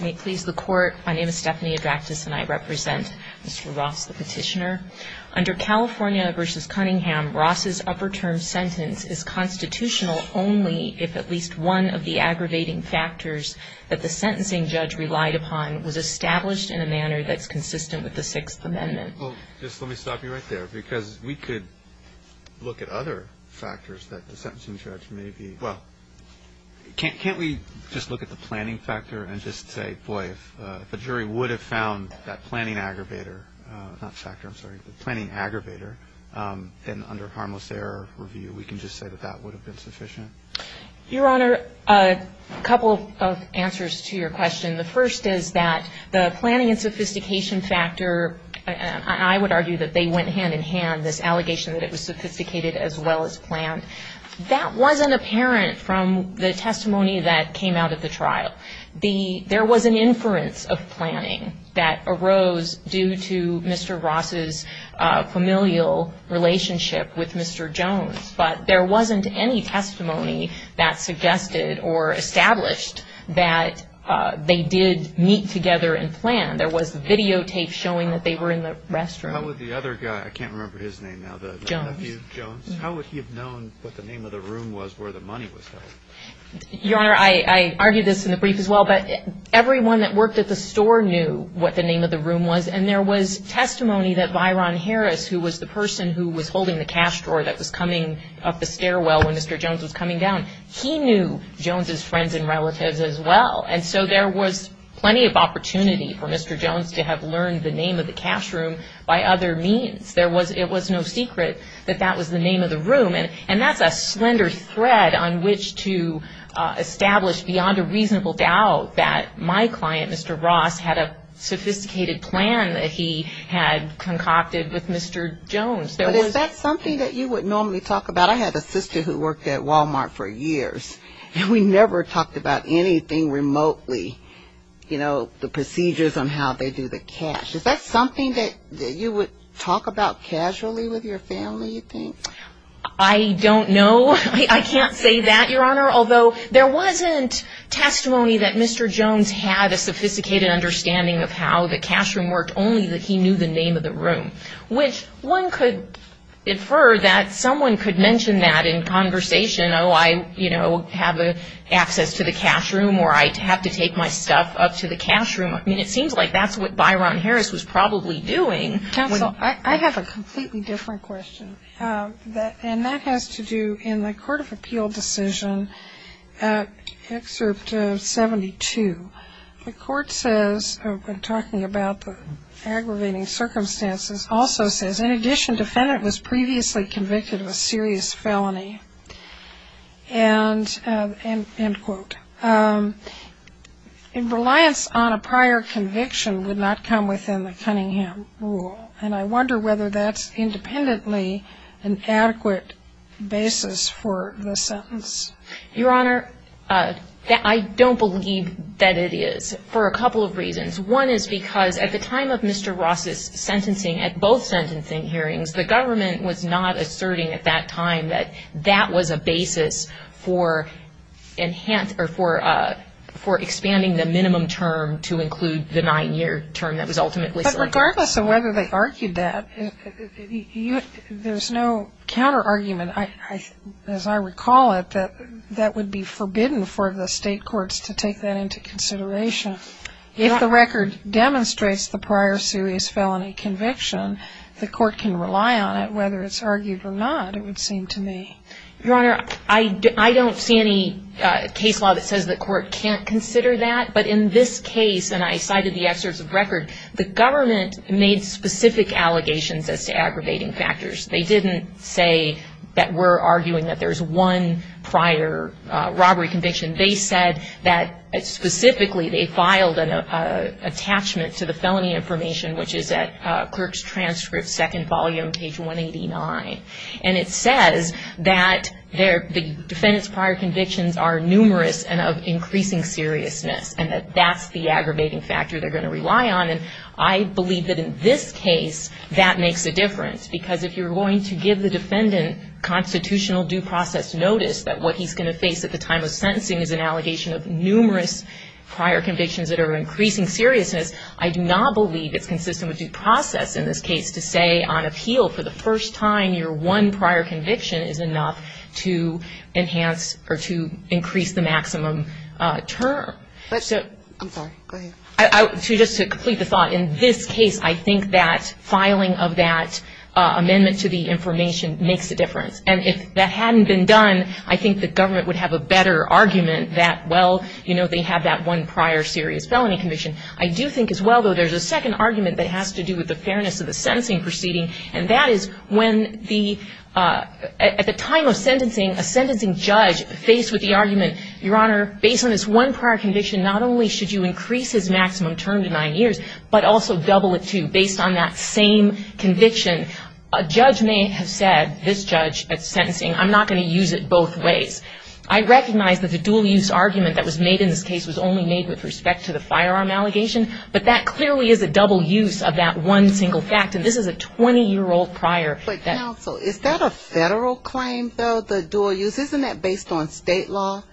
May it please the Court, my name is Stephanie Adraktis and I represent Mr. Ross, the petitioner. Under California v. Cunningham, Ross's upper term sentence is constitutional only if at least one of the aggravating factors that the sentencing judge relied upon was established in a manner that's consistent with the Sixth Amendment. Well, just let me stop you right there, because we could look at other factors that the sentencing judge may be... Well, can't we just look at the planning factor and just say, boy, if a jury would have found that planning aggravator, not factor, I'm sorry, the planning aggravator, then under harmless error review, we can just say that that would have been sufficient? Your Honor, a couple of answers to your question. The first is that the planning and sophistication factor, I would argue that they went hand in hand, this allegation that it was sophisticated as well as planned. That wasn't apparent from the testimony that came out of the trial. There was an inference of planning that arose due to Mr. Ross's familial relationship with Mr. Jones, but there wasn't any testimony that suggested or established that they did meet together and plan. There was videotapes showing that they were in the restroom. How would the other guy, I can't remember his name now, the nephew of Jones, how would he have known what the name of the room was where the money was held? Your Honor, I argued this in the brief as well, but everyone that worked at the store knew what the name of the room was. And there was testimony that Byron Harris, who was the person who was holding the cash drawer that was coming up the stairwell when Mr. Jones was coming down, he knew Jones' friends and relatives as well. And so there was plenty of opportunity for Mr. Jones to have learned the name of the cash room by other means. It was no secret that that was the name of the room. And that's a slender thread on which to establish beyond a reasonable doubt that my client, Mr. Ross, had a sophisticated plan that he had concocted with Mr. Jones. But is that something that you would normally talk about? I had a sister who worked at Walmart for years, and we never talked about anything remotely, you know, the procedures on how they do the cash. Is that something that you would talk about casually with your family, you think? I don't know. I can't say that, Your Honor, although there wasn't testimony that Mr. Jones had a sophisticated understanding of how the cash room worked, only that he knew the name of the room. Which one could infer that someone could mention that in conversation. Oh, I, you know, have access to the cash room, or I have to take my stuff up to the cash room. I mean, it seems like that's what Byron Harris was probably doing. Counsel, I have a completely different question, and that has to do in the Court of Appeal decision, Excerpt 72. The court says, talking about the aggravating circumstances, also says, in addition, defendant was previously convicted of a serious felony. And, end quote. Reliance on a prior conviction would not come within the Cunningham rule. And I wonder whether that's independently an adequate basis for the sentence. Your Honor, I don't believe that it is, for a couple of reasons. One is because at the time of Mr. Ross's sentencing, at both sentencing hearings, the government was not asserting at that time that that was a basis for enhance, or for expanding the minimum term to include the nine-year term that was ultimately selected. But regardless of whether they argued that, there's no counterargument, as I recall it, that that would be forbidden for the state courts to take that into consideration. If the record demonstrates the prior serious felony conviction, the court can rely on it, whether it's argued or not, it would seem to me. Your Honor, I don't see any case law that says the court can't consider that. But in this case, and I cited the excerpts of record, the government made specific allegations as to aggravating factors. They didn't say that we're arguing that there's one prior robbery conviction. They said that, specifically, they filed an attachment to the felony information, which is at Clerk's Transcript, second volume, page 189. And it says that the defendant's prior convictions are numerous and of increasing seriousness, and that that's the aggravating factor they're going to rely on. And I believe that in this case, that makes a difference. Because if you're going to give the defendant constitutional due process notice that what he's going to face at the time of sentencing is an allegation of numerous prior convictions that are of increasing seriousness, I do not believe it's consistent with due process in this case to say on appeal for the first time your one prior conviction is enough to enhance or to increase the maximum term. So to just complete the thought, in this case, I think that filing of that amendment to the information makes a difference. And if that hadn't been done, I think the government would have a better argument that, well, you know, they have that one prior serious felony conviction. I do think as well, though, there's a second argument that has to do with the fairness of the sentencing proceeding, and that is when the at the time of sentencing, a sentencing judge faced with the argument, Your Honor, based on this one prior conviction, not only should you increase his maximum term to nine years, but also double it, too, based on that same conviction. A judge may have said, this judge at sentencing, I'm not going to use it both ways. I recognize that the dual use argument that was made in this case was only made with respect to the firearm allegation, but that clearly is a double use of that one single fact, and this is a 20-year-old prior. But counsel, is that a federal claim, though, the dual use? Isn't that based on state law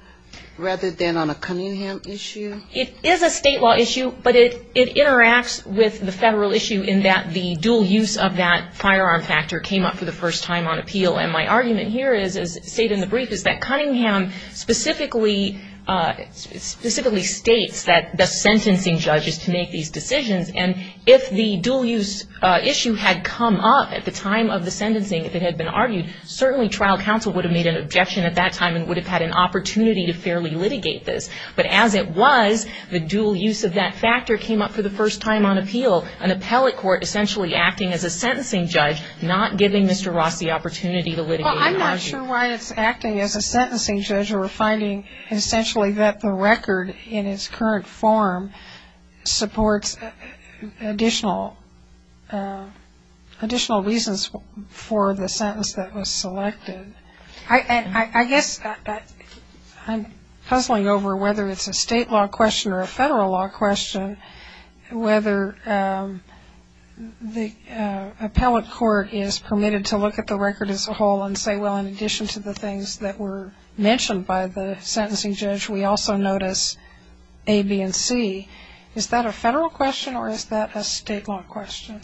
rather than on a Cunningham issue? It is a state law issue, but it interacts with the federal issue in that the dual use of that firearm factor came up for the first time on appeal, and my argument here is, as stated in the brief, is that Cunningham specifically states that the sentencing judge is to make these decisions, and if the dual use issue had come up at the time of the sentencing, if it had been argued, certainly trial counsel would have made an objection at that time and would have had an opportunity to fairly litigate this. But as it was, the dual use of that factor came up for the first time on appeal, an appellate court essentially acting as a sentencing judge, not giving Mr. Ross the opportunity to litigate an argument. Well, I'm not sure why it's acting as a sentencing judge or finding essentially that the record in its current form supports additional reasons for the sentence that was selected. I guess I'm puzzling over whether it's a state law question or a federal law question, whether the appellate court is permitted to look at the record as a whole and say, well, in addition to the things that were mentioned by the sentencing judge, we also notice A, B, and C. Is that a federal question or is that a state law question?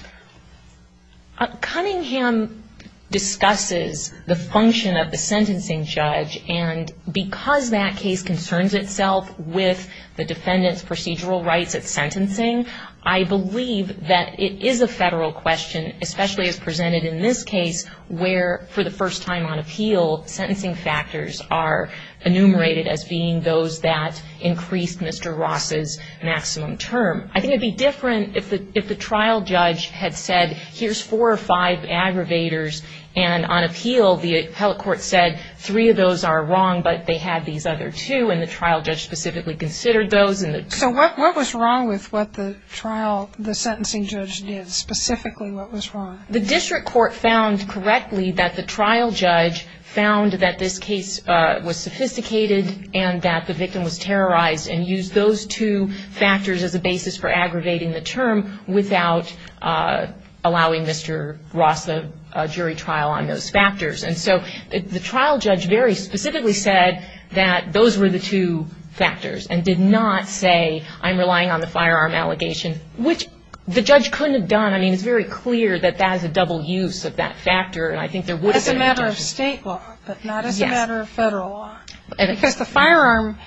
Cunningham discusses the function of the sentencing judge. And because that case concerns itself with the defendant's procedural rights at sentencing, I believe that it is a federal question, especially as presented in this case, where for the first time on appeal, sentencing factors are enumerated as being those that increased Mr. Ross's maximum term. I think it would be different if the trial judge had said, here's four or five aggravators, and on appeal the appellate court said three of those are wrong, but they had these other two, and the trial judge specifically considered those. So what was wrong with what the trial, the sentencing judge did, specifically what was wrong? The district court found correctly that the trial judge found that this case was sophisticated and that the victim was terrorized and used those two factors as a basis for aggravating the term without allowing Mr. Ross a jury trial on those factors. And so the trial judge very specifically said that those were the two factors and did not say I'm relying on the firearm allegation, which the judge couldn't have done. I mean, it's very clear that that is a double use of that factor, and I think there would have been a reduction. As a matter of state law, but not as a matter of federal law. Because the firearm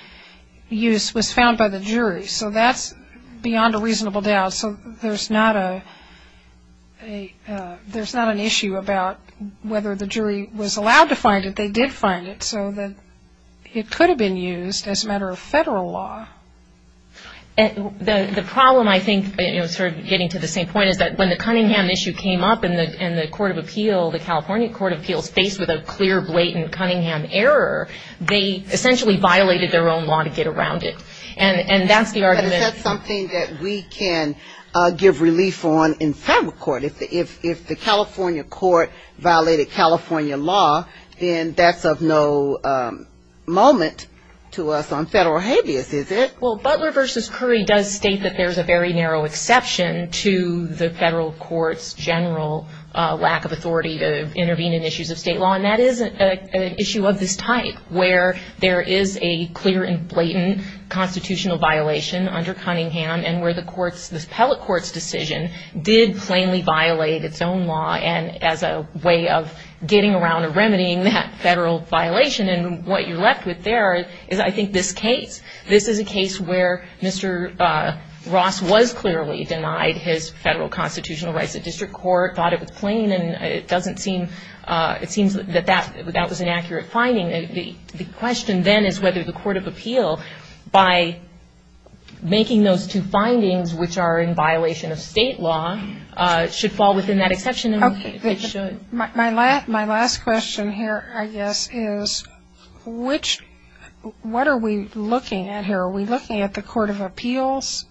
use was found by the jury, so that's beyond a reasonable doubt. So there's not an issue about whether the jury was allowed to find it. They did find it. So it could have been used as a matter of federal law. The problem, I think, sort of getting to the same point, is that when the Cunningham issue came up and the Court of Appeal, the California Court of Appeals, faced with a clear, blatant Cunningham error, they essentially violated their own law to get around it. And that's the argument. But is that something that we can give relief on in federal court? If the California court violated California law, then that's of no moment to us on federal habeas, is it? Well, Butler v. Curry does state that there's a very narrow exception to the federal court's general lack of authority to intervene in issues of state law, and that is an issue of this type, where there is a clear and blatant constitutional violation under Cunningham, and where this appellate court's decision did plainly violate its own law and as a way of getting around or remedying that federal violation. And what you're left with there is, I think, this case. This is a case where Mr. Ross was clearly denied his federal constitutional rights at district court, thought it was plain, and it seems that that was an accurate finding. The question then is whether the Court of Appeal, by making those two findings, which are in violation of state law, should fall within that exception. My last question here, I guess, is what are we looking at here? Are we looking at the Court of Appeals'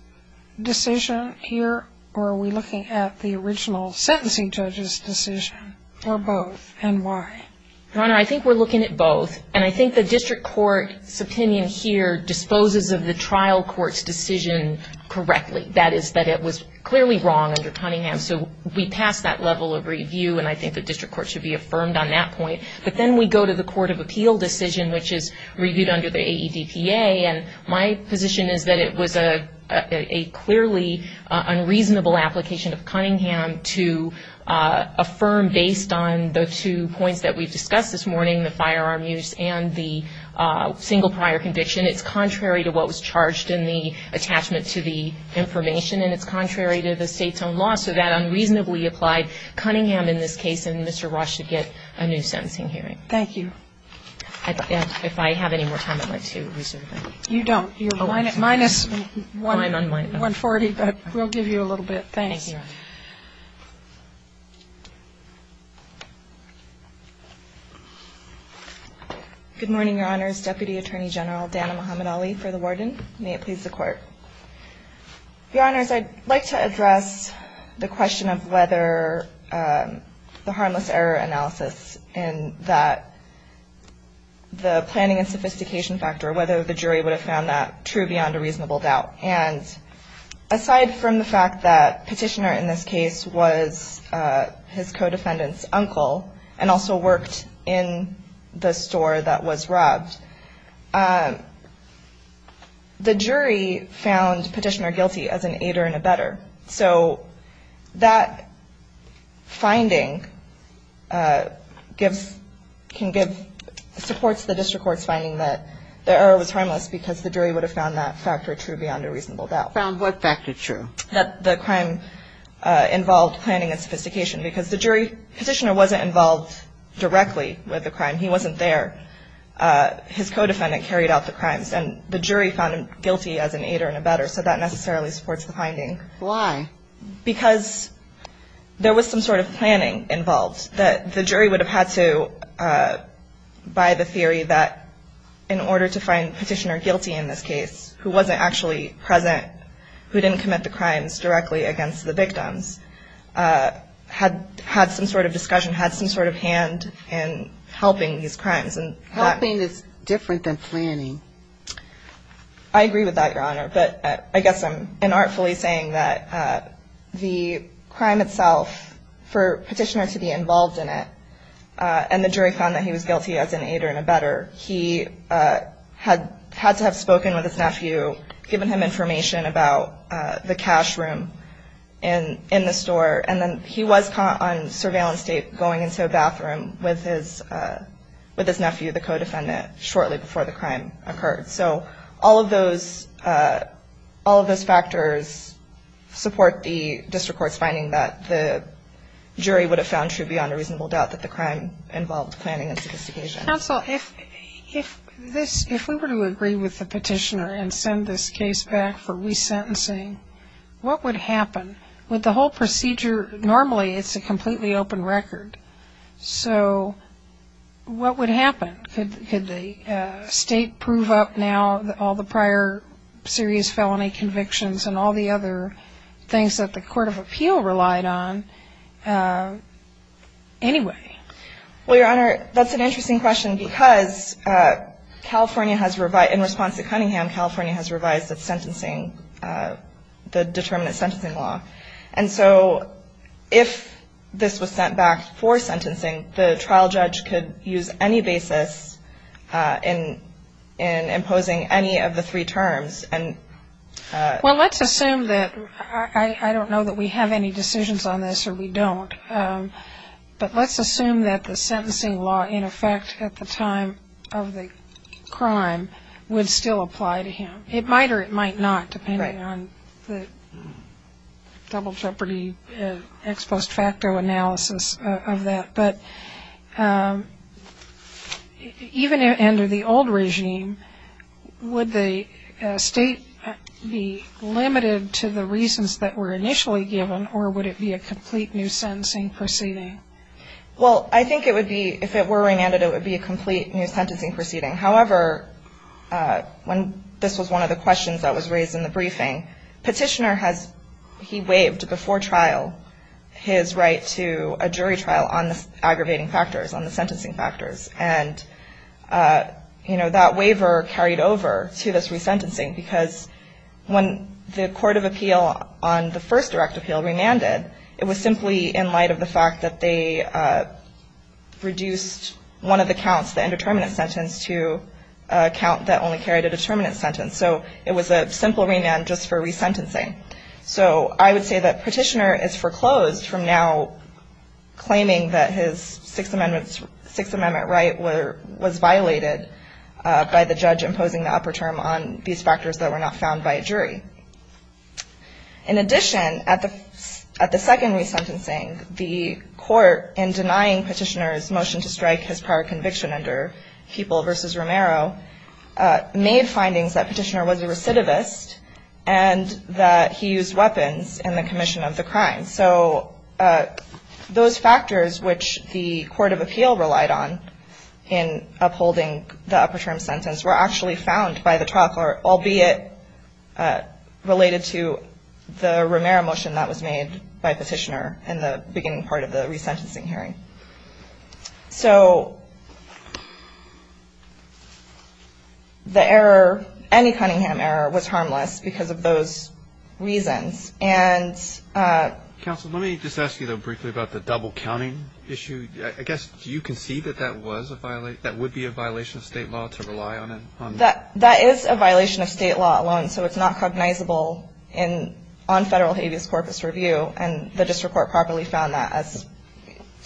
decision here, or are we looking at the original sentencing judge's decision, or both, and why? Your Honor, I think we're looking at both, and I think the district court's opinion here disposes of the trial court's decision correctly. That is that it was clearly wrong under Cunningham, so we pass that level of review, and I think the district court should be affirmed on that point. But then we go to the Court of Appeal decision, which is reviewed under the AEDPA, and my position is that it was a clearly unreasonable application of Cunningham to affirm based on the two points that we've discussed this morning, the firearm use and the single prior conviction. And it's contrary to what was charged in the attachment to the information, and it's contrary to the State's own law. So that unreasonably applied Cunningham in this case, and Mr. Ross should get a new sentencing hearing. Thank you. If I have any more time, I'd like to reserve it. You don't. You're minus 140, but we'll give you a little bit. Thanks. Thank you, Your Honor. Good morning, Your Honors. Deputy Attorney General Dana Muhammad-Ali for the warden. May it please the Court. Your Honors, I'd like to address the question of whether the harmless error analysis and that the planning and sophistication factor, whether the jury would have found that true beyond a reasonable doubt. And aside from the fact that Petitioner in this case was a defendant, his co-defendant's uncle, and also worked in the store that was robbed, the jury found Petitioner guilty as an aider and abetter. So that finding can give supports to the district court's finding that the error was harmless because the jury would have found that factor true beyond a reasonable doubt. Found what factor true? That the crime involved planning and sophistication because the jury, Petitioner wasn't involved directly with the crime. He wasn't there. His co-defendant carried out the crimes, and the jury found him guilty as an aider and abetter, so that necessarily supports the finding. Why? Because there was some sort of planning involved that the jury would have had to, by the theory that in order to find Petitioner guilty in this case, who wasn't actually present, who didn't commit the crimes directly against the victims, had some sort of discussion, had some sort of hand in helping these crimes. Helping is different than planning. I agree with that, Your Honor. But I guess I'm inartfully saying that the crime itself, for Petitioner to be involved in it, and the jury found that he was guilty as an aider and abetter, he had to have spoken with his nephew, given him information about the cash room in the store, and then he was caught on surveillance tape going into a bathroom with his nephew, the co-defendant, shortly before the crime occurred. So all of those factors support the district court's finding that the jury would have found true beyond a reasonable doubt that the crime involved planning and sophistication. Counsel, if we were to agree with the Petitioner and send this case back for resentencing, what would happen? With the whole procedure, normally it's a completely open record. So what would happen? Could the State prove up now all the prior serious felony convictions and all the other things that the Court of Appeal relied on anyway? Well, Your Honor, that's an interesting question because California has revised In response to Cunningham, California has revised its sentencing, the determinant sentencing law. And so if this was sent back for sentencing, the trial judge could use any basis in imposing any of the three terms and Well, let's assume that, I don't know that we have any decisions on this or we don't, but let's assume that the sentencing law in effect at the time of the crime would still apply to him. It might or it might not, depending on the double jeopardy ex post facto analysis of that. But even under the old regime, would the State be limited to the reasons that were initially given or would it be a complete new sentencing proceeding? Well, I think it would be, if it were remanded, it would be a complete new sentencing proceeding. However, when this was one of the questions that was raised in the briefing, Petitioner has, he waived before trial his right to a jury trial on the aggravating factors, on the sentencing factors. And, you know, that waiver carried over to this resentencing because when the Court of Appeal on the first direct appeal remanded, it was simply in light of the fact that they reduced one of the counts, the indeterminate sentence, to a count that only carried a determinate sentence. So it was a simple remand just for resentencing. So I would say that Petitioner is foreclosed from now claiming that his Sixth Amendment right was violated by the judge imposing the upper term on these factors that were not found by a jury. In addition, at the second resentencing, the Court, in denying Petitioner's motion to strike his prior conviction under People v. Romero, made findings that Petitioner was a recidivist and that he used weapons in the commission of the crime. So those factors which the Court of Appeal relied on in upholding the upper term sentence were actually found by the trial court, albeit related to the Romero motion that was made by Petitioner in the beginning part of the resentencing hearing. So the error, any Cunningham error, was harmless because of those reasons. Counsel, let me just ask you, though, briefly about the double counting issue. I guess you concede that that would be a violation of state law to rely on it? That is a violation of state law alone, so it's not cognizable on federal habeas corpus review, and the district court properly found that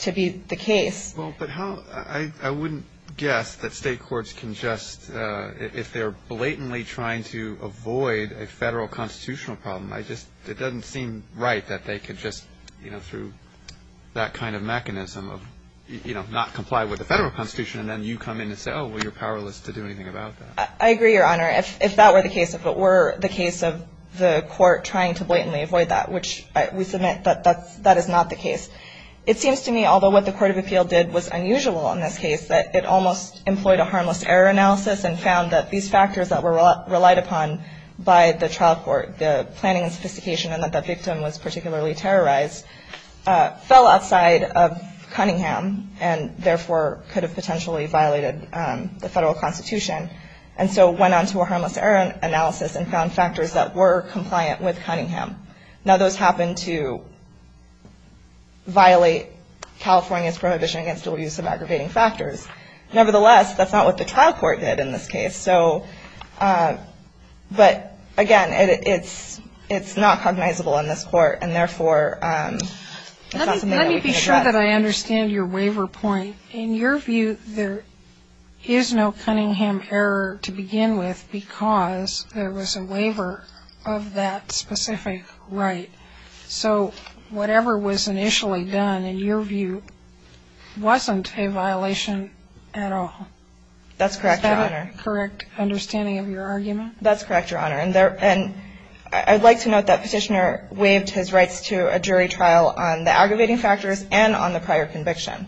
to be the case. Well, but I wouldn't guess that state courts can just, if they're blatantly trying to avoid a federal constitutional problem, I just, it doesn't seem right that they could just, you know, through that kind of mechanism of, you know, not comply with the federal constitution, and then you come in and say, oh, well, you're powerless to do anything about that. I agree, Your Honor. If that were the case, if it were the case of the court trying to blatantly avoid that, which we submit that that is not the case. It seems to me, although what the Court of Appeal did was unusual in this case, that it almost employed a harmless error analysis and found that these factors that were relied upon by the trial court, the planning and sophistication and that the victim was particularly terrorized, fell outside of Cunningham and therefore could have potentially violated the federal constitution, and so went on to a harmless error analysis and found factors that were compliant with Cunningham. Now, those happen to violate California's prohibition against dual use of aggravating factors. Nevertheless, that's not what the trial court did in this case. So, but, again, it's not cognizable in this court, and therefore it's not something that we can address. Let me be sure that I understand your waiver point. In your view, there is no Cunningham error to begin with because there was a waiver of that specific right. So whatever was initially done, in your view, wasn't a violation at all. That's correct, Your Honor. Is that a correct understanding of your argument? That's correct, Your Honor. And I would like to note that Petitioner waived his rights to a jury trial on the aggravating factors and on the prior conviction.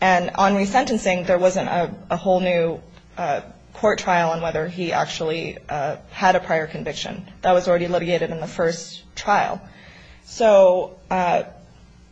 And on resentencing, there wasn't a whole new court trial on whether he actually had a prior conviction. That was already litigated in the first trial. So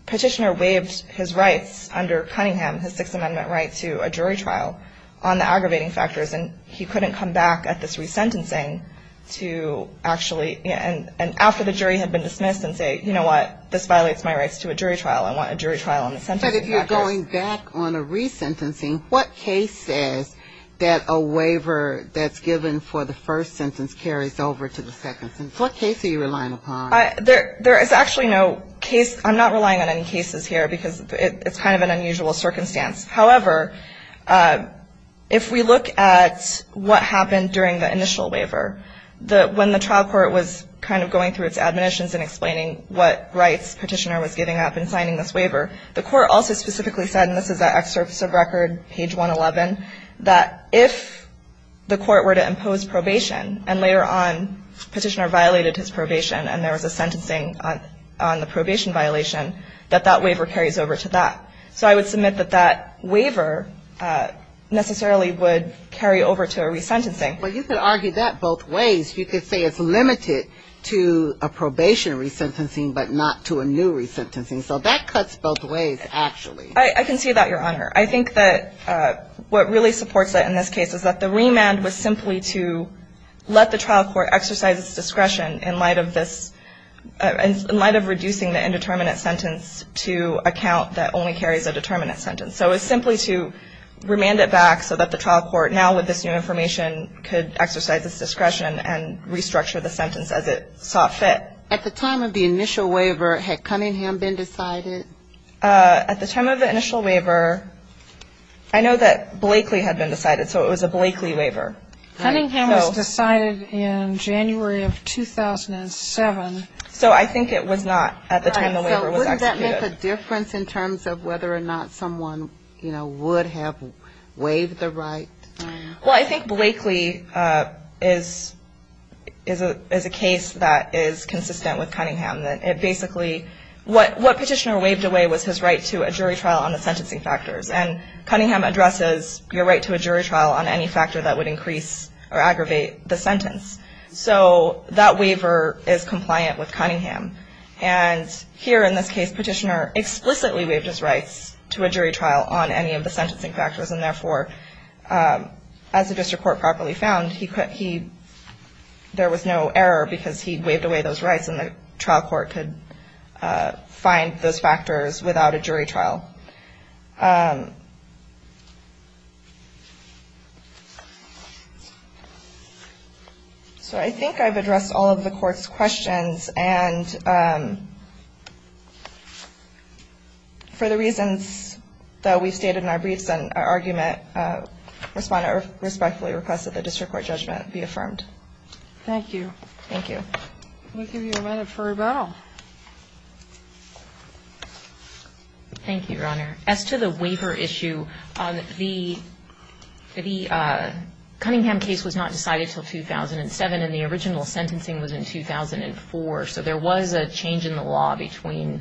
Petitioner waived his rights under Cunningham, his Sixth Amendment right, to a jury trial on the aggravating factors, and he couldn't come back at this resentencing to actually and after the jury had been dismissed and say, you know what, this violates my rights to a jury trial. I want a jury trial on the sentencing factors. But if you're going back on a resentencing, what case says that a waiver that's given for the first sentence carries over to the second sentence? What case are you relying upon? There is actually no case. I'm not relying on any cases here because it's kind of an unusual circumstance. However, if we look at what happened during the initial waiver, when the trial court was kind of going through its admonitions and explaining what rights Petitioner was giving up in signing this waiver, the court also specifically said, and this is an excerpt of the record, page 111, that if the court were to impose probation and later on Petitioner violated his probation and there was a sentencing on the probation violation, that that waiver carries over to that. So I would submit that that waiver necessarily would carry over to a resentencing. But you could argue that both ways. You could say it's limited to a probation resentencing but not to a new resentencing. So that cuts both ways, actually. I can see that, Your Honor. I think that what really supports it in this case is that the remand was simply to let the trial court exercise its discretion in light of this, in light of reducing the indeterminate sentence to a count that only carries a determinate sentence. So it was simply to remand it back so that the trial court, now with this new information, could exercise its discretion and restructure the sentence as it saw fit. At the time of the initial waiver, had Cunningham been decided? At the time of the initial waiver, I know that Blakely had been decided, so it was a Blakely waiver. Cunningham was decided in January of 2007. So I think it was not at the time the waiver was executed. So wouldn't that make a difference in terms of whether or not someone, you know, would have waived the right? Well, I think Blakely is a case that is consistent with Cunningham. It basically, what Petitioner waived away was his right to a jury trial on the sentencing factors. And Cunningham addresses your right to a jury trial on any factor that would increase or aggravate the sentence. So that waiver is compliant with Cunningham. And here in this case, Petitioner explicitly waived his rights to a jury trial on any of the sentencing factors. And therefore, as the district court properly found, there was no error because he waived away those rights and the trial court could find those factors without a jury trial. So I think I've addressed all of the court's questions. And for the reasons that we've stated in our briefs and our argument, respondent respectfully requests that the district court judgment be affirmed. Thank you. Thank you. We'll give you a minute for rebuttal. Thank you, Your Honor. As to the waiver issue, the Cunningham case was not decided until 2007, and the original sentencing was in 2004. So there was a change in the law between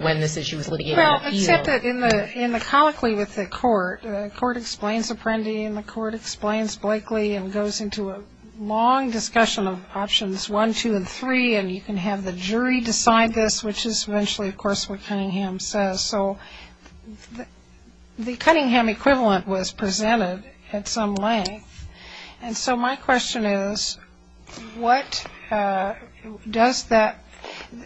when this issue was litigated and appealed. Well, except that in the colloquy with the court, the court explains Apprendi, and the court explains Blakely and goes into a long discussion of options one, two, and three, and you can have the jury decide this, which is eventually, of course, what Cunningham says. So the Cunningham equivalent was presented at some length. And so my question is, what does that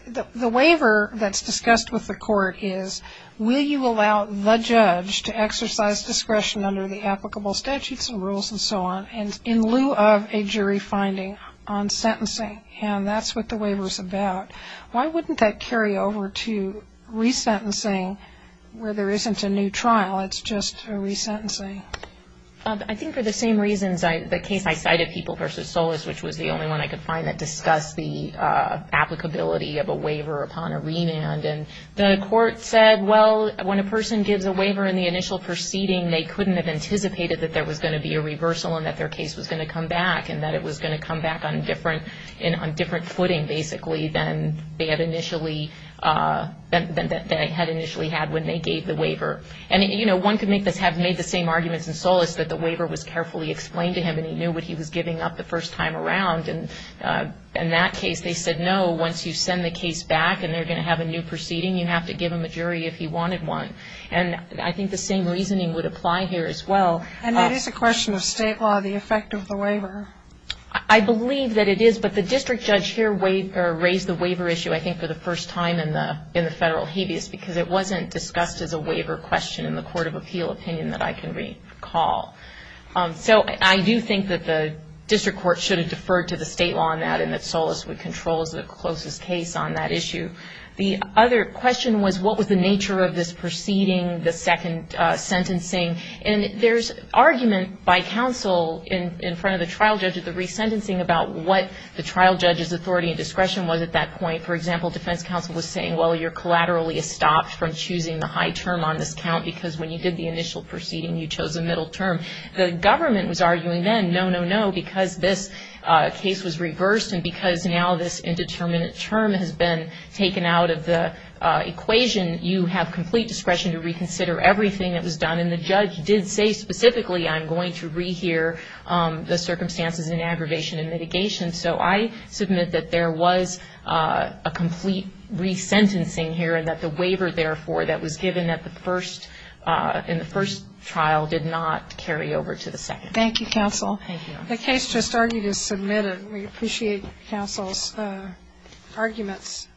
the waiver that's discussed with the court is, will you allow the judge to exercise discretion under the applicable statutes and rules and so on in lieu of a jury finding on sentencing? And that's what the waiver is about. Why wouldn't that carry over to resentencing where there isn't a new trial, it's just a resentencing? I think for the same reasons the case I cited, People v. Solis, which was the only one I could find that discussed the applicability of a waiver upon a remand. And the court said, well, when a person gives a waiver in the initial proceeding, they couldn't have anticipated that there was going to be a reversal and that their case was going to come back and that it was going to come back on a different footing, basically, than they had initially had when they gave the waiver. And, you know, one could have made the same arguments in Solis that the waiver was carefully explained to him and he knew what he was giving up the first time around. And in that case, they said, no, once you send the case back and they're going to have a new proceeding, you have to give them a jury if he wanted one. And I think the same reasoning would apply here as well. And it is a question of state law, the effect of the waiver. I believe that it is, but the district judge here raised the waiver issue, I think, for the first time in the federal habeas because it wasn't discussed as a waiver question in the court of appeal opinion that I can recall. So I do think that the district court should have deferred to the state law on that and that Solis would control as the closest case on that issue. The other question was, what was the nature of this proceeding, the second sentencing? And there's argument by counsel in front of the trial judge at the resentencing about what the trial judge's authority and discretion was at that point. For example, defense counsel was saying, well, you're collaterally stopped from choosing the high term on this count because when you did the initial proceeding, you chose a middle term. The government was arguing then, no, no, no, because this case was reversed and because now this indeterminate term has been taken out of the equation, you have complete discretion to reconsider everything that was done. And the judge did say specifically, I'm going to rehear the circumstances in aggravation and mitigation. So I submit that there was a complete resentencing here and that the waiver, therefore, that was given in the first trial did not carry over to the second. Thank you, counsel. Thank you. The case just argued is submitted. We appreciate counsel's arguments.